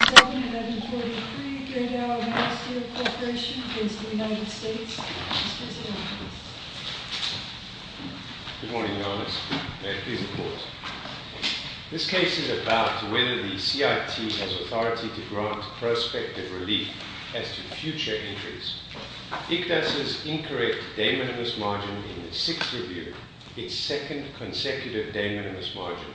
Good morning, Your Honours. May I please report? This case is about whether the CIT has authority to grant prospective relief as to future entries. ICDAS's incorrect day-minimus margin in the sixth review, its second consecutive day-minimus margin,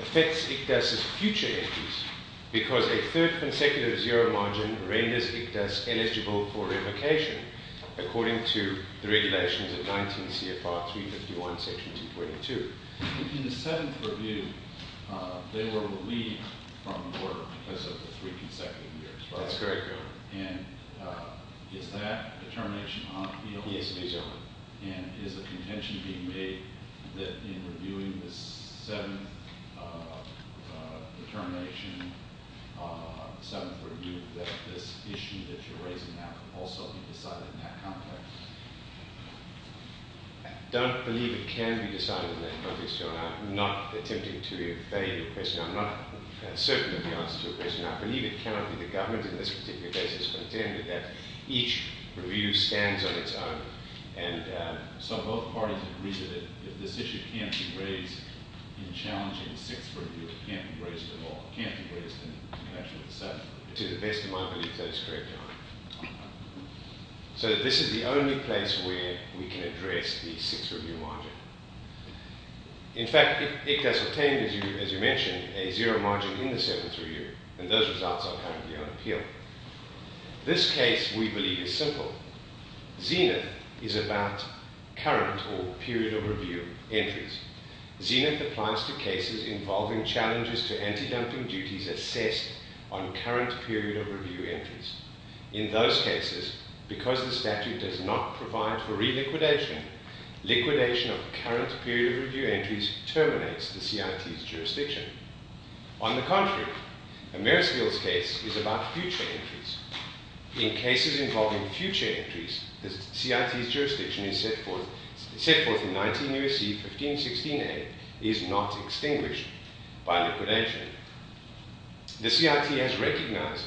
affects ICDAS's future entries because a third consecutive zero margin renders ICDAS eligible for revocation, according to the regulations of 19 CFR 351, section 222. In the seventh review, they were relieved from work because of the three consecutive years, right? That's correct, Your Honour. And is that a termination on appeal? Yes, it is, Your Honour. And is the contention being made that in reviewing this seventh determination, seventh review, that this issue that you're raising now can also be decided in that context? I don't believe it can be decided in that context, Your Honour. I'm not attempting to evade your question. I'm not certain of the answer to your question. I believe it cannot be the government in this particular case has contended that each review stands on its own, and so both parties agree that if this issue can't be raised in challenging the sixth review, it can't be raised at all, can't be raised in connection with the seventh. To the best of my belief, that is correct, Your Honour. So this is the only place where we can address the sixth review margin. In fact, ICDAS obtained, as you mentioned, a zero margin in the seventh review, and those results are currently on appeal. This case, we believe, is simple. Zenith is about current or period of review entries. Zenith applies to cases involving challenges to antidumping duties assessed on current period of review entries. In those cases, because the statute does not provide for reliquidation, liquidation of current period of review entries terminates the CIT's jurisdiction. On the contrary, Amerisville's case is about future entries. In cases involving future entries, the CIT's jurisdiction is set forth in 19 U.S.C. 1516a is not extinguished by liquidation. The CIT has recognized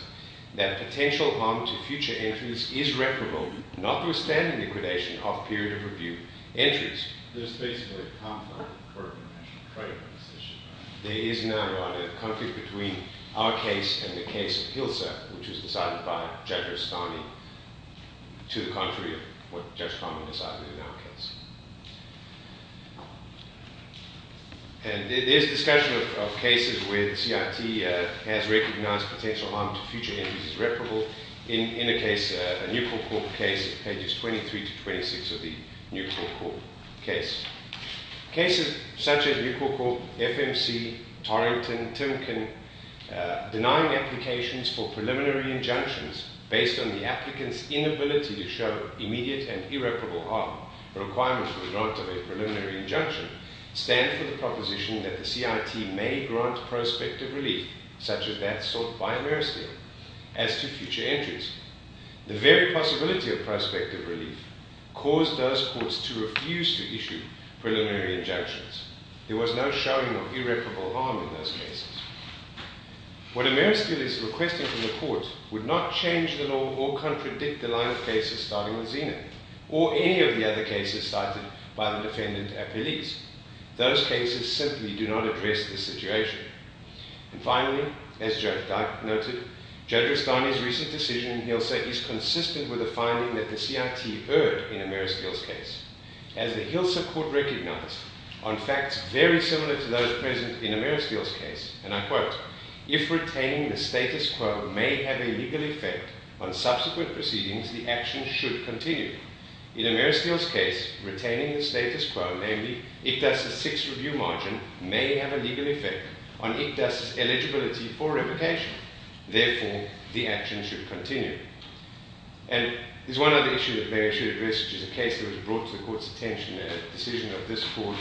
that potential harm to future entries is reputable, notwithstanding liquidation of period of review entries. There is basically a conflict between our case and the case of Hilsa, which was decided by Judge Rostami, to the contrary of what Judge Rostami decided in our case. And there is discussion of cases where the CIT has recognized potential harm to future entries is reputable in a case, a Newcorp Court case, pages 23 to 26 of the Newcorp Court case. Cases such as Newcorp Court, FMC, Torrington, Timken, denying applications for preliminary injunctions based on the applicant's inability to show immediate and irreparable harm requirements for the grant of a preliminary injunction stand for the proposition that the CIT may grant prospective relief, such as that sought by Ameristeel, as to future entries. The very possibility of prospective relief caused those courts to refuse to issue preliminary injunctions. There was no showing of irreparable harm in those cases. What Ameristeel is requesting from the court would not change the law or contradict the line of cases starting with Zena, or any of the other cases cited by the defendant appellees. Those cases simply do not address this situation. And finally, as Judge Dyck noted, Judge Rostami's recent decision in HILSA is consistent with the finding that the CIT heard in Ameristeel's case. As the HILSA court recognized, on facts very similar to those present in Ameristeel's case, and I quote, if retaining the status quo may have a legal effect on subsequent proceedings, the action should continue. In Ameristeel's case, retaining the status quo, namely ICDAS's six-review margin, may have a legal effect on ICDAS's eligibility for revocation. Therefore, the action should continue. And there's one other issue that may I should address, which is a case that was brought to the court's attention, a decision of this court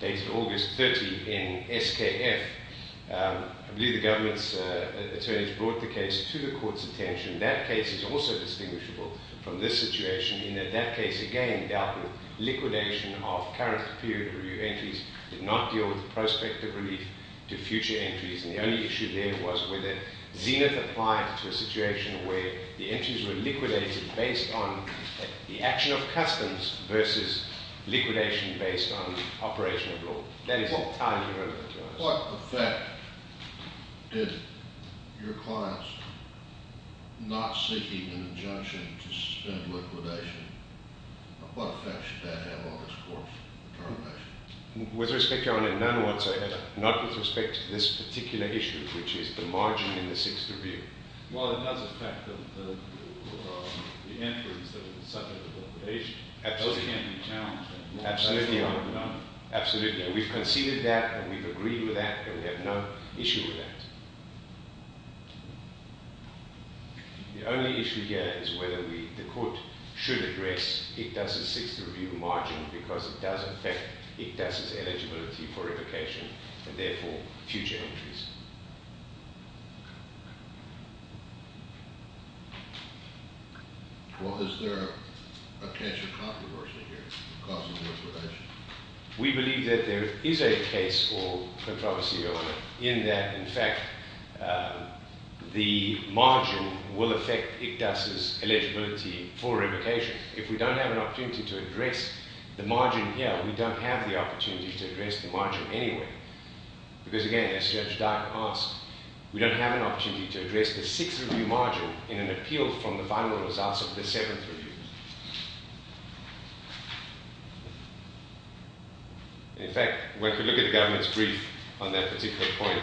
dated August 30 in SKF. I believe the government's attorneys brought the case to the court's attention. That case is also indistinguishable from this situation in that that case, again, dealt with liquidation of current period-of-review entries, did not deal with prospective relief to future entries. And the only issue there was whether Zenith applied to a situation where the entries were liquidated based on the action of customs versus liquidation based on operation of law. That is entirely irrelevant to us. What effect did your clients, not seeking an injunction to suspend liquidation, what effect should that have on this court's determination? With respect, Your Honor, none whatsoever. Not with respect to this particular issue, which is the margin in the six-review. Well, it does affect the entries that were subject to liquidation. Those can be challenged. Absolutely, Your Honor. Absolutely. We've conceded that, and we've agreed with that, and we have no issue with that. The only issue here is whether the court should address Ictas's six-review margin because it does affect Ictas's eligibility for liquidation and, therefore, future entries. Well, is there a case of controversy here? We believe that there is a case for controversy, Your Honor, in that, in fact, the margin will affect Ictas's eligibility for liquidation. If we don't have an opportunity to address the margin here, we don't have the opportunity to address the margin anyway because, again, as Judge Dyer asked, we don't have an opportunity to address the six-review margin in an appeal from the final results of the seventh review. In fact, when we look at the government's brief on that particular point,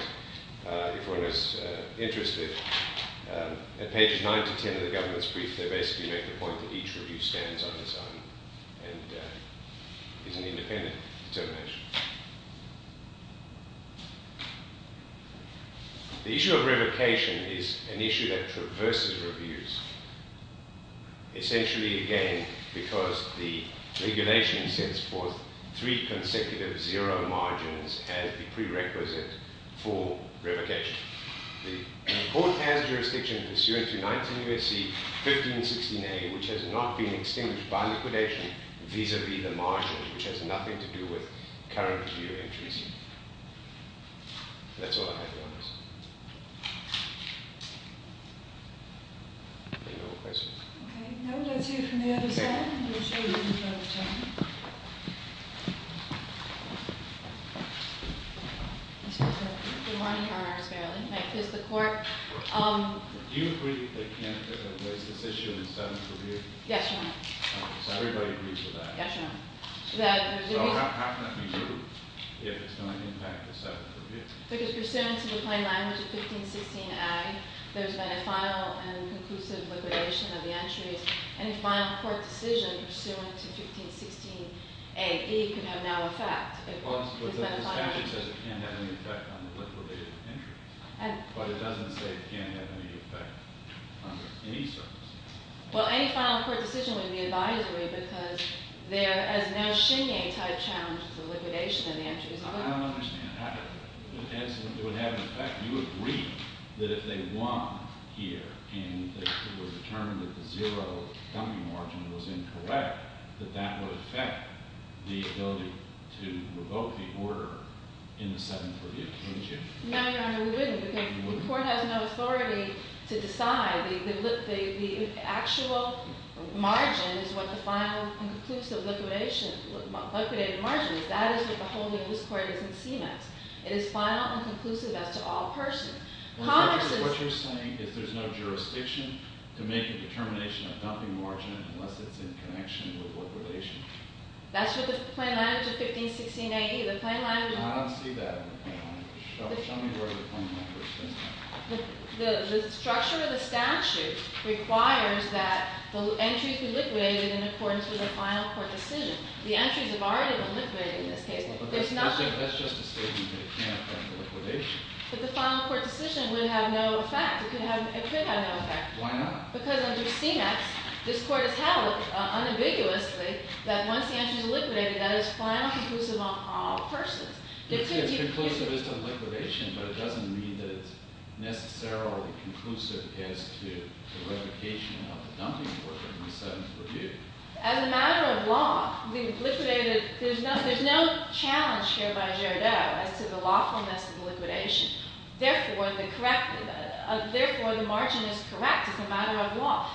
if one is interested, at pages 9 to 10 of the government's brief, they basically make the point that each review stands on its own and is an independent determination. The issue of revocation is an issue that traverses reviews essentially, again, because the regulation sets forth three consecutive zero margins as the prerequisite for revocation. The court has jurisdiction pursuant to 19 U.S.C. 1516A, which has not been extinguished by liquidation vis-à-vis the margin, which has nothing to do with current review entries. That's all I have, Your Honor. Any more questions? Okay. No, that's it from the other side. And we'll show you in a moment, Your Honor. Thank you. Mr. President, good morning. R.R. Sparrowley. I quiz the court. Do you agree that Canada placed this issue in the seventh review? Yes, Your Honor. So everybody agrees with that? Yes, Your Honor. So how can that be true if it's going to impact the seventh review? Because pursuant to the plain language of 1516A, there's been a final and conclusive liquidation of the entries. Any final court decision pursuant to 1516AE could have no effect. But the statute says it can't have any effect on the liquidated entries. But it doesn't say it can't have any effect on any service. Well, any final court decision would be advisory because there is no Shinye type challenge to the liquidation of the entries. I don't understand. It would have an effect. You agree that if they won here and it was determined that the zero dumping margin was incorrect, that that would affect the ability to revoke the order in the seventh review, wouldn't you? No, Your Honor, we wouldn't. The court has no authority to decide. The actual margin is what the final and conclusive liquidated margin is. That is what the holding of this court is in CMS. It is final and conclusive as to all persons. What you're saying is there's no jurisdiction to make a determination of dumping margin unless it's in connection with what relation? That's what the plain language of 1516AE. I don't see that in the plain language. Show me where the plain language is. The structure of the statute requires that the entries be liquidated in accordance with a final court decision. The entries have already been liquidated in this case. That's just a statement. It can't affect the liquidation. But the final court decision would have no effect. It could have no effect. Why not? Because under CMS, this court has held unambiguously that once the entries are liquidated, that is final and conclusive on all persons. It's conclusive as to the liquidation, but it doesn't mean that it's necessarily conclusive as to the revocation of the dumping margin in the seventh review. As a matter of law, there's no challenge here by Gerdau as to the lawfulness of the liquidation. Therefore, the margin is correct as a matter of law.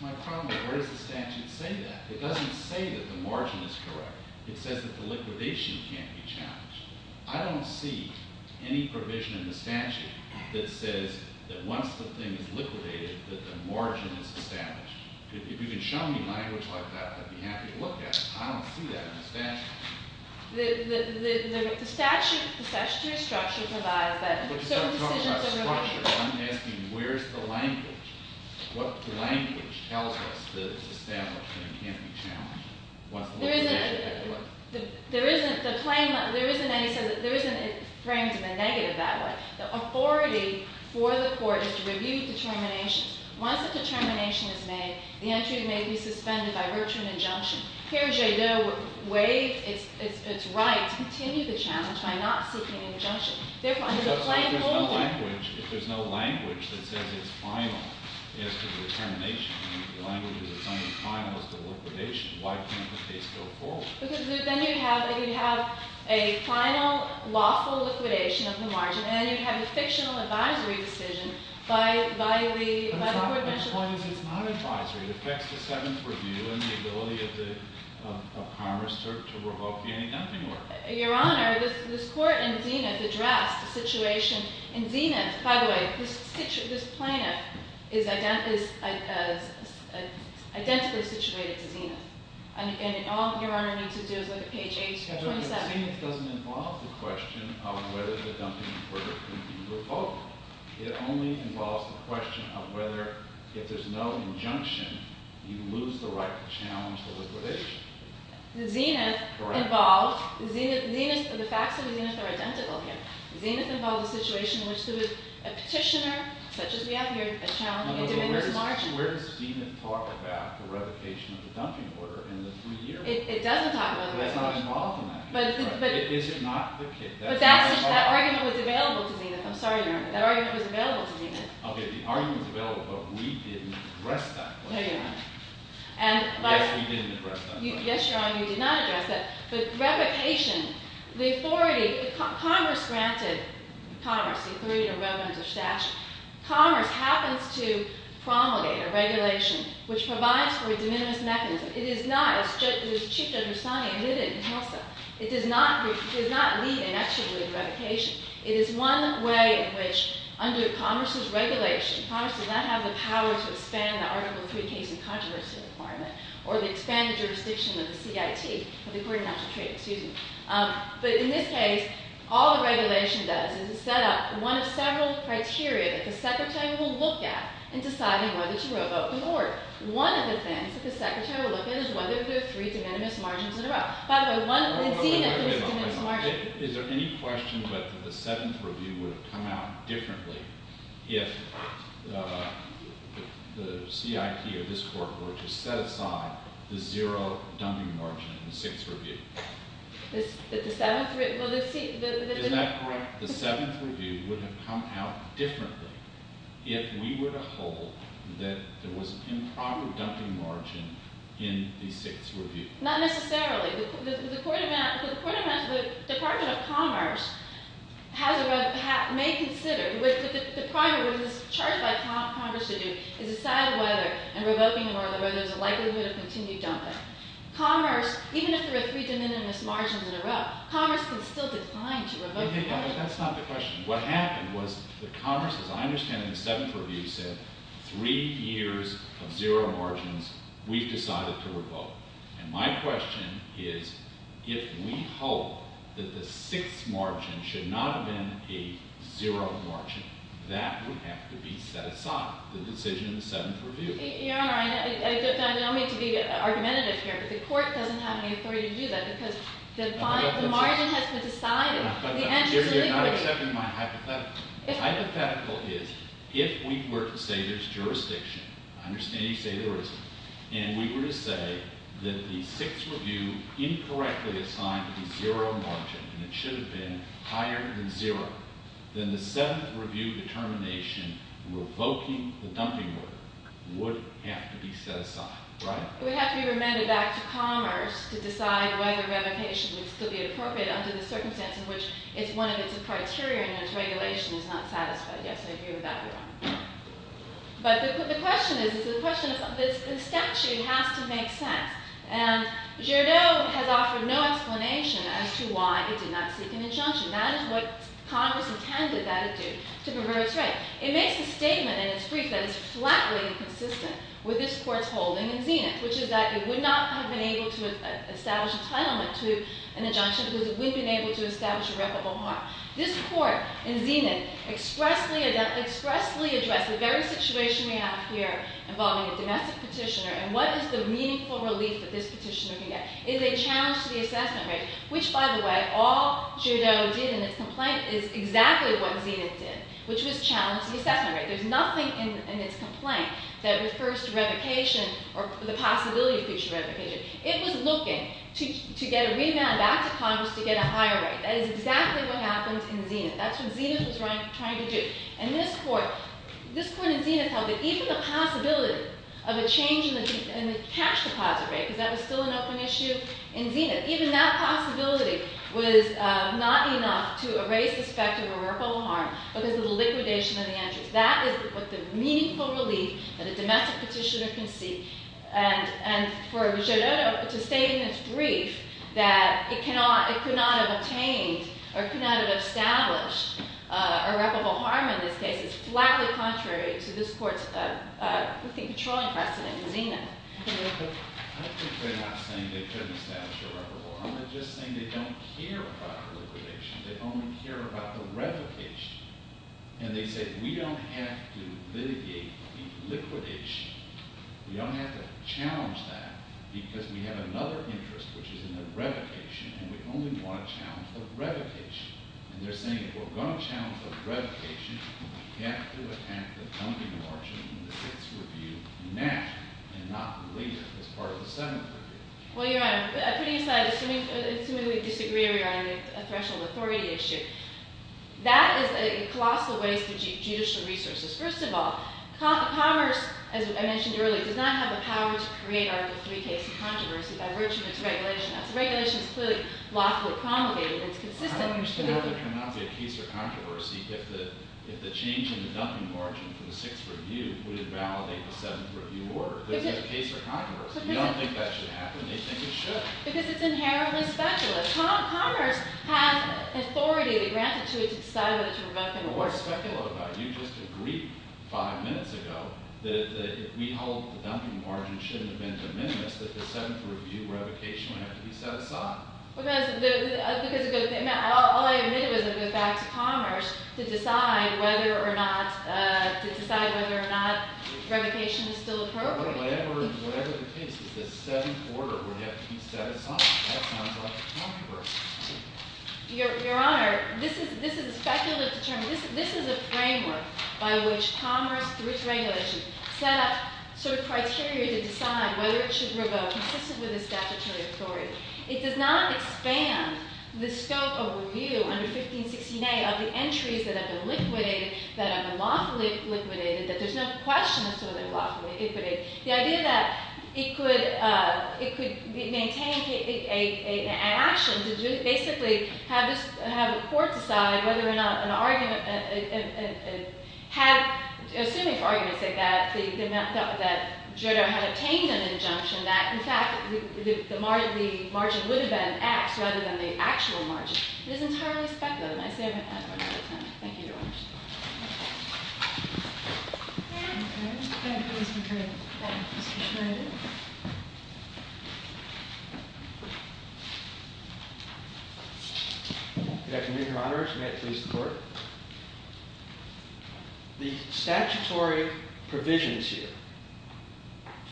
My problem is where does the statute say that? It doesn't say that the margin is correct. It says that the liquidation can't be challenged. I don't see any provision in the statute that says that once the thing is liquidated, that the margin is established. If you could show me language like that, I'd be happy to look at it. I don't see that in the statute. The statutory structure provides that certain decisions are revoked. I'm not talking about structure. I'm asking where's the language? What language tells us that it's established and it can't be challenged once the liquidation is over? There isn't the claim that there isn't any frame to be negative that way. The authority for the court is to review determinations. Once a determination is made, the entry may be suspended by virtue of an injunction. Here, Gerdau waived its right to continue the challenge by not seeking an injunction. Therefore, there's a plain holding. If there's no language that says it's final as to the determination and the language is it's only final as to the liquidation, why can't the case go forward? Because then you'd have a final, lawful liquidation of the margin. And then you'd have a fictional advisory decision by the court. But the point is it's not advisory. It affects the Seventh Review and the ability of Congress to revoke the ending of the order. Your Honor, this court in Zenith addressed the situation in Zenith. By the way, this plaintiff is identically situated to Zenith. And all Your Honor needs to do is look at page 827. But Zenith doesn't involve the question of whether the dumping order can be revoked. It only involves the question of whether, if there's no injunction, you lose the right to challenge the liquidation. Zenith involved, the facts of Zenith are identical here. Zenith involved a situation in which there was a petitioner, such as we have here, challenging a diminished margin. Actually, where does Zenith talk about the revocation of the dumping order in the three years? It doesn't talk about the revocation. But it's not involved in that case. Is it not the case? But that argument was available to Zenith. I'm sorry, Your Honor. That argument was available to Zenith. OK. The argument was available. But we didn't address that question. No, Your Honor. Yes, we didn't address that question. Yes, Your Honor, you did not address that. But revocation, the authority, Congress granted commerce, the authority to revoke the statute. Commerce happens to promulgate a regulation which provides for a de minimis mechanism. It is not, as Chief Judge Rusani admitted in HILSA, it does not lead inextricably to revocation. It is one way in which, under Congress's regulation, Congress does not have the power to expand the Article III case in controversy requirement, or to expand the jurisdiction of the CIT, of the Court of Natural Treaties. Excuse me. But in this case, all the regulation does is set up one of several criteria that the Secretary will look at in deciding whether to revoke the order. One of the things that the Secretary will look at is whether there are three de minimis margins in a row. By the way, Zenith has a de minimis margin. Is there any question that the Seventh Review would have come out differently if the CIT or this Court were to set aside the zero dumping margin in the Sixth Review? The Seventh Review? Is that correct? The Seventh Review would have come out differently if we were to hold that there was improper dumping margin in the Sixth Review. Not necessarily. The Department of Commerce may consider, with the primary which is charged by Congress to do, is a side order and revoking an order where there's a likelihood of continued dumping. Commerce, even if there are three de minimis margins in a row, Commerce can still decline to revoke the order. That's not the question. What happened was the Commerce, as I understand it in the Seventh Review, said three years of zero margins, we've decided to revoke. And my question is, if we hope that the Sixth Margin should not have been a zero margin, that would have to be set aside, the decision in the Seventh Review. Your Honor, I don't mean to be argumentative here, but the Court doesn't have any authority to do that because the margin has been decided. You're not accepting my hypothetical. Hypothetical is, if we were to say there's jurisdiction, I understand you say there isn't, and we were to say that the Sixth Review incorrectly assigned a zero margin, and it should have been higher than zero, then the Seventh Review determination revoking the dumping order would have to be set aside, right? It would have to be remanded back to Commerce to decide whether revocation would still be appropriate under the circumstance in which it's one of its criteria and its regulation is not satisfied. Yes, I agree with that, Your Honor. But the question is, the statute has to make sense. And Giraud has offered no explanation as to why it did not seek an injunction. That is what Congress intended that it do, to prefer its right. It makes a statement in its brief that is flatly inconsistent with this Court's holding in Zenith, which is that it would not have been able to establish entitlement to an injunction because it wouldn't have been able to establish irreparable harm. This Court in Zenith expressly addressed the very situation we have here involving a domestic petitioner, and what is the meaningful relief that this petitioner can get? It is a challenge to the assessment rate, which, by the way, all Giraud did in its complaint is exactly what Zenith did, which was challenge the assessment rate. There's nothing in its complaint that refers to revocation or the possibility of future revocation. It was looking to get a remand back to Congress to get a higher rate. That is exactly what happens in Zenith. That's what Zenith was trying to do. And this Court in Zenith held that even the possibility of a change in the cash deposit rate, because that was still an open issue in Zenith, even that possibility was not enough to erase the specter of irreparable harm because of the liquidation of the entries. That is what the meaningful relief that a domestic petitioner can seek. And for Giraud to state in its brief that it could not have obtained or could not have established irreparable harm in this case is flatly contrary to this Court's controlling precedent in Zenith. I don't think they're not saying they couldn't establish irreparable harm. They're just saying they don't care about liquidation. They only care about the revocation. And they say we don't have to litigate the liquidation. We don't have to challenge that because we have another interest, which is in the revocation, and we only want to challenge the revocation. And they're saying if we're going to challenge the revocation, then we have to attack the dumping of our children in the Fifth's review now and not later as part of the Seventh Review. Well, Your Honor, putting aside, assuming we disagree or we are on a threshold authority issue, that is a colossal waste of judicial resources. First of all, commerce, as I mentioned earlier, does not have the power to create Article III cases of controversy by virtue of its regulation. That's a regulation that's clearly lawfully promulgated, and it's consistent. I don't understand how there cannot be a case of controversy if the change in the dumping margin for the Sixth Review wouldn't validate the Seventh Review order. There's no case of controversy. You don't think that should happen. They think it should. Because it's inherently speculative. Commerce has authority, granted to it, to decide whether to revoke it or not. What's speculative about it? You just agreed five minutes ago that if we hold the dumping margin shouldn't have been de minimis, that the Seventh Review revocation would have to be set aside. All I admitted was to go back to commerce to decide whether or not revocation is still appropriate. Whatever the case is, the Seventh Order would have to be set aside. That sounds like a controversy. Your Honor, this is a speculative term. This is a framework by which commerce, through its regulation, set up sort of criteria to decide whether it should revoke, consistent with its statutory authority. It does not expand the scope of review under 1516A of the entries that have been liquidated, that have been lawfully liquidated, that there's no question that they're lawfully liquidated. The idea that it could maintain an action to basically have a court decide whether or not an argument had, assuming for argument's sake, that Jodo had obtained an injunction that, in fact, the margin would have been X rather than the actual margin, is entirely speculative. And I say that one more time. Thank you, Your Honor. Good afternoon, Your Honor. May it please the Court? The statutory provisions here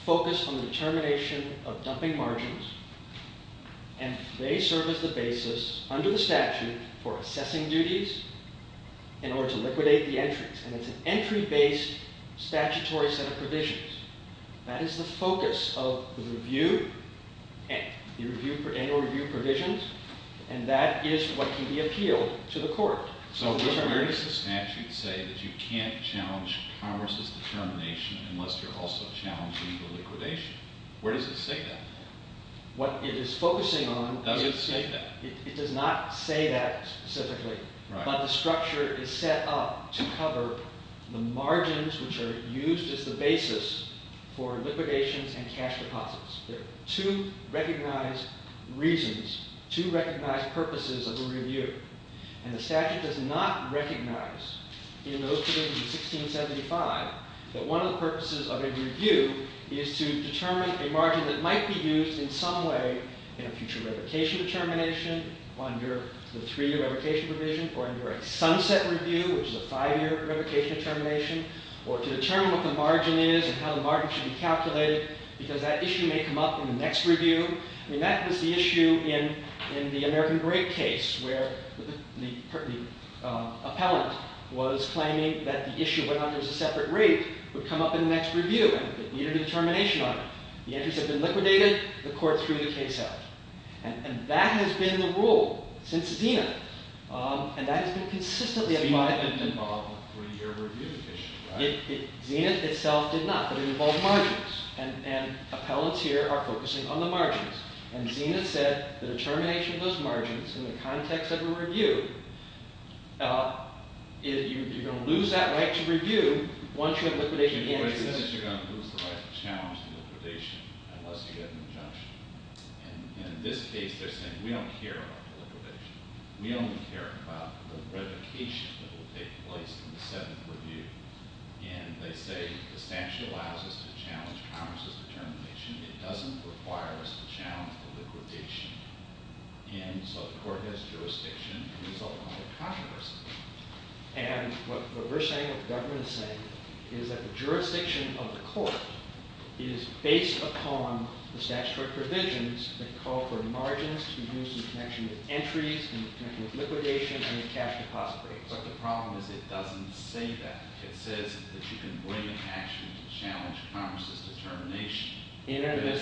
focus on the determination of dumping margins, and they serve as the basis, under the statute, for assessing duties in order to liquidate the entries. And it's an entry-based statutory set of provisions. That is the focus of the annual review provisions, and that is what can be appealed to the court. So where does the statute say that you can't challenge commerce's determination unless you're also challenging the liquidation? Where does it say that? What it is focusing on is that it does not say that specifically, but the structure is set up to cover the margins which are used as the basis for liquidations and cash deposits. There are two recognized reasons, two recognized purposes of a review, and the statute does not recognize in those provisions in 1675 that one of the purposes of a review is to determine a margin that might be used in some way in a future revocation determination, under the three-year revocation provision, or under a sunset review, which is a five-year revocation determination, or to determine what the margin is and how the margin should be calculated, because that issue may come up in the next review. I mean, that was the issue in the American Great case, where the appellant was claiming that the issue went on as a separate rate, would come up in the next review, and it needed a determination on it. The entries had been liquidated. The court threw the case out, and that has been the rule since Zenith, and that has been consistently applied. Zenith didn't involve a three-year review issue, right? Zenith itself did not, but it involved margins, and appellants here are focusing on the margins, and Zenith said the determination of those margins in the context of a review, you're going to lose that right to review once you have liquidated the entries. You're going to lose the right to challenge the liquidation unless you get an injunction, and in this case they're saying we don't care about the liquidation. We only care about the revocation that will take place in the seventh review, and they say the statute allows us to challenge Congress's determination. It doesn't require us to challenge the liquidation, and so the court has jurisdiction to resolve all the controversy, and what we're saying, what the government is saying, is that the jurisdiction of the court is based upon the statutory provisions that call for margins to be used in connection with entries, in connection with liquidation, and with cash deposit rates. But the problem is it doesn't say that. It says that you can bring an action to challenge Congress's determination, and it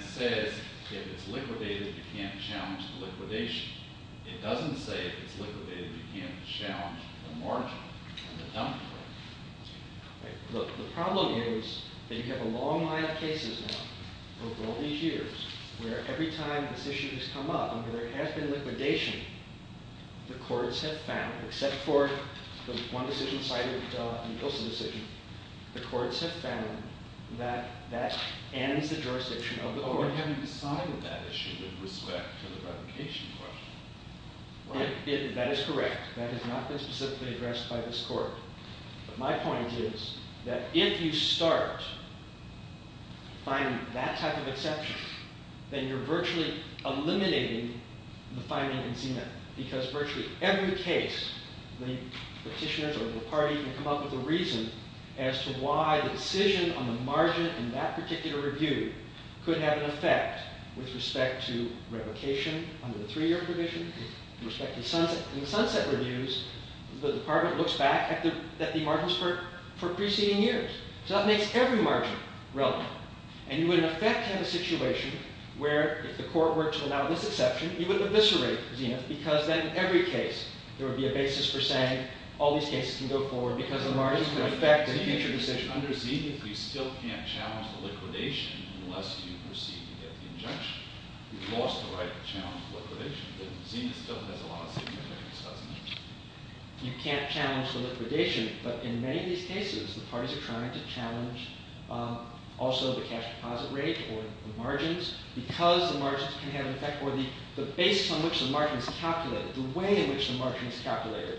says if it's liquidated, you can't challenge the liquidation. It doesn't say if it's liquidated, you can't challenge the margin and the dumping rate. Look, the problem is that you have a long line of cases now over all these years where every time this issue has come up and there has been liquidation, the courts have found, except for the one decision cited in the Ilson decision, the courts have found that that ends the jurisdiction of the court. Oh, and have you decided that issue with respect to the revocation question? That is correct. That has not been specifically addressed by this court. But my point is that if you start finding that type of exception, then you're virtually eliminating the finding in ZMIP because virtually every case the petitioners or the party can come up with a reason as to why the decision on the margin in that particular review could have an effect with respect to revocation under the three-year provision, with respect to sunset. In the sunset reviews, the department looks back at the margins for preceding years. So that makes every margin relevant. And you would, in effect, have a situation where if the court were to allow this exception, you would eviscerate ZMIP because then in every case there would be a basis for saying all these cases can go forward because the margins can affect the future decision. Under ZMIP, you still can't challenge the liquidation unless you proceed to get the injunction. You've lost the right to challenge the liquidation, but ZMIP still has a lot of significance, doesn't it? You can't challenge the liquidation, but in many of these cases, the parties are trying to challenge also the cash deposit rate or the margins because the margins can have an effect or the basis on which the margin is calculated, the way in which the margin is calculated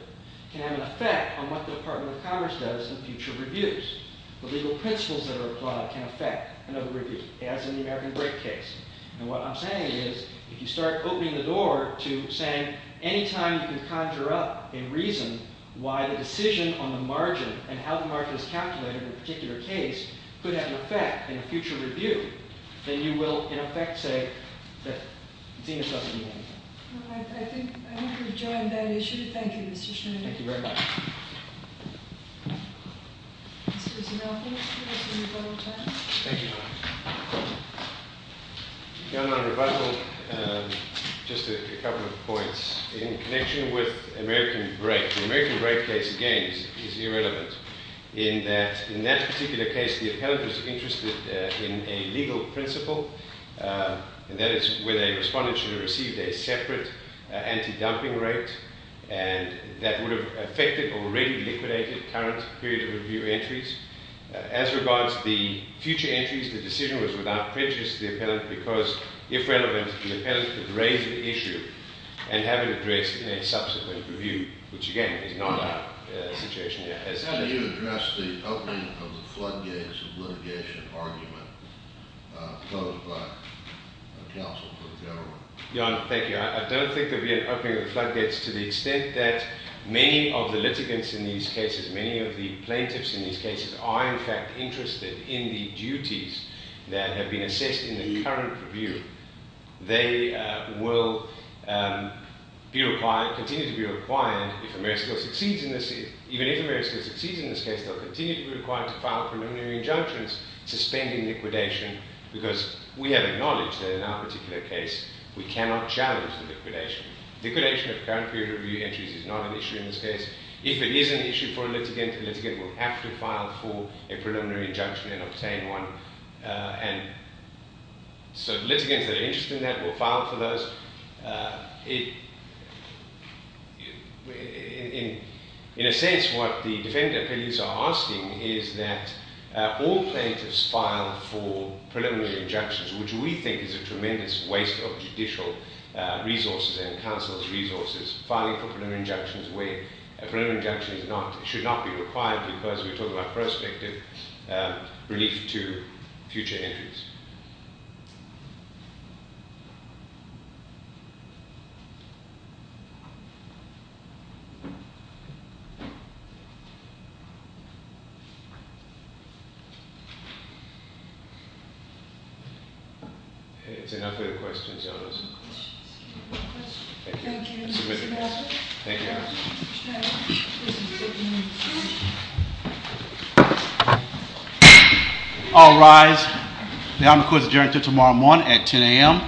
can have an effect on what the Department of Commerce does in future reviews. The legal principles that are applied can affect another review, as in the American Break case. And what I'm saying is if you start opening the door to saying anytime you can conjure up a reason why the decision on the margin and how the margin is calculated in a particular case could have an effect in a future review, then you will, in effect, say that ZMIP doesn't mean anything. I think we've joined that issue. Thank you, Mr. Schneider. Thank you very much. Mr. Zanuffo, would you like to rebuttal time? Thank you. If you don't mind rebuttal, just a couple of points. In connection with American Break, the American Break case, again, is irrelevant in that in that particular case, the appellant was interested in a legal principle, and that is when a respondent should have received a separate anti-dumping rate, and that would have affected already liquidated current period of review entries. As regards the future entries, the decision was without prejudice to the appellant because, if relevant, the appellant could raise the issue and have it addressed in a subsequent review, which, again, is not our situation here. Can you address the opening of the floodgates of litigation argument posed by counsel to the government? Thank you. I don't think there will be an opening of the floodgates to the extent that many of the litigants in these cases, many of the plaintiffs in these cases, are, in fact, interested in the duties that have been assessed in the current review. They will be required, continue to be required, if Ameriscal succeeds in this, even if Ameriscal succeeds in this case, they'll continue to be required to file preliminary injunctions suspending liquidation because we have acknowledged that in our particular case we cannot challenge the liquidation. Liquidation of current period of review entries is not an issue in this case. If it is an issue for a litigant, the litigant will have to file for a preliminary injunction and obtain one. And so litigants that are interested in that will file for those. In a sense, what the defendant appeals are asking is that all plaintiffs file for preliminary injunctions, which we think is a tremendous waste of judicial resources and counsel's resources. Filing for preliminary injunctions where a preliminary injunction should not be required because we're talking about prospective relief to future entries. Okay, it's enough of the questions. Thank you. All rise. The honor court is adjourned until tomorrow morning at 10 a.m.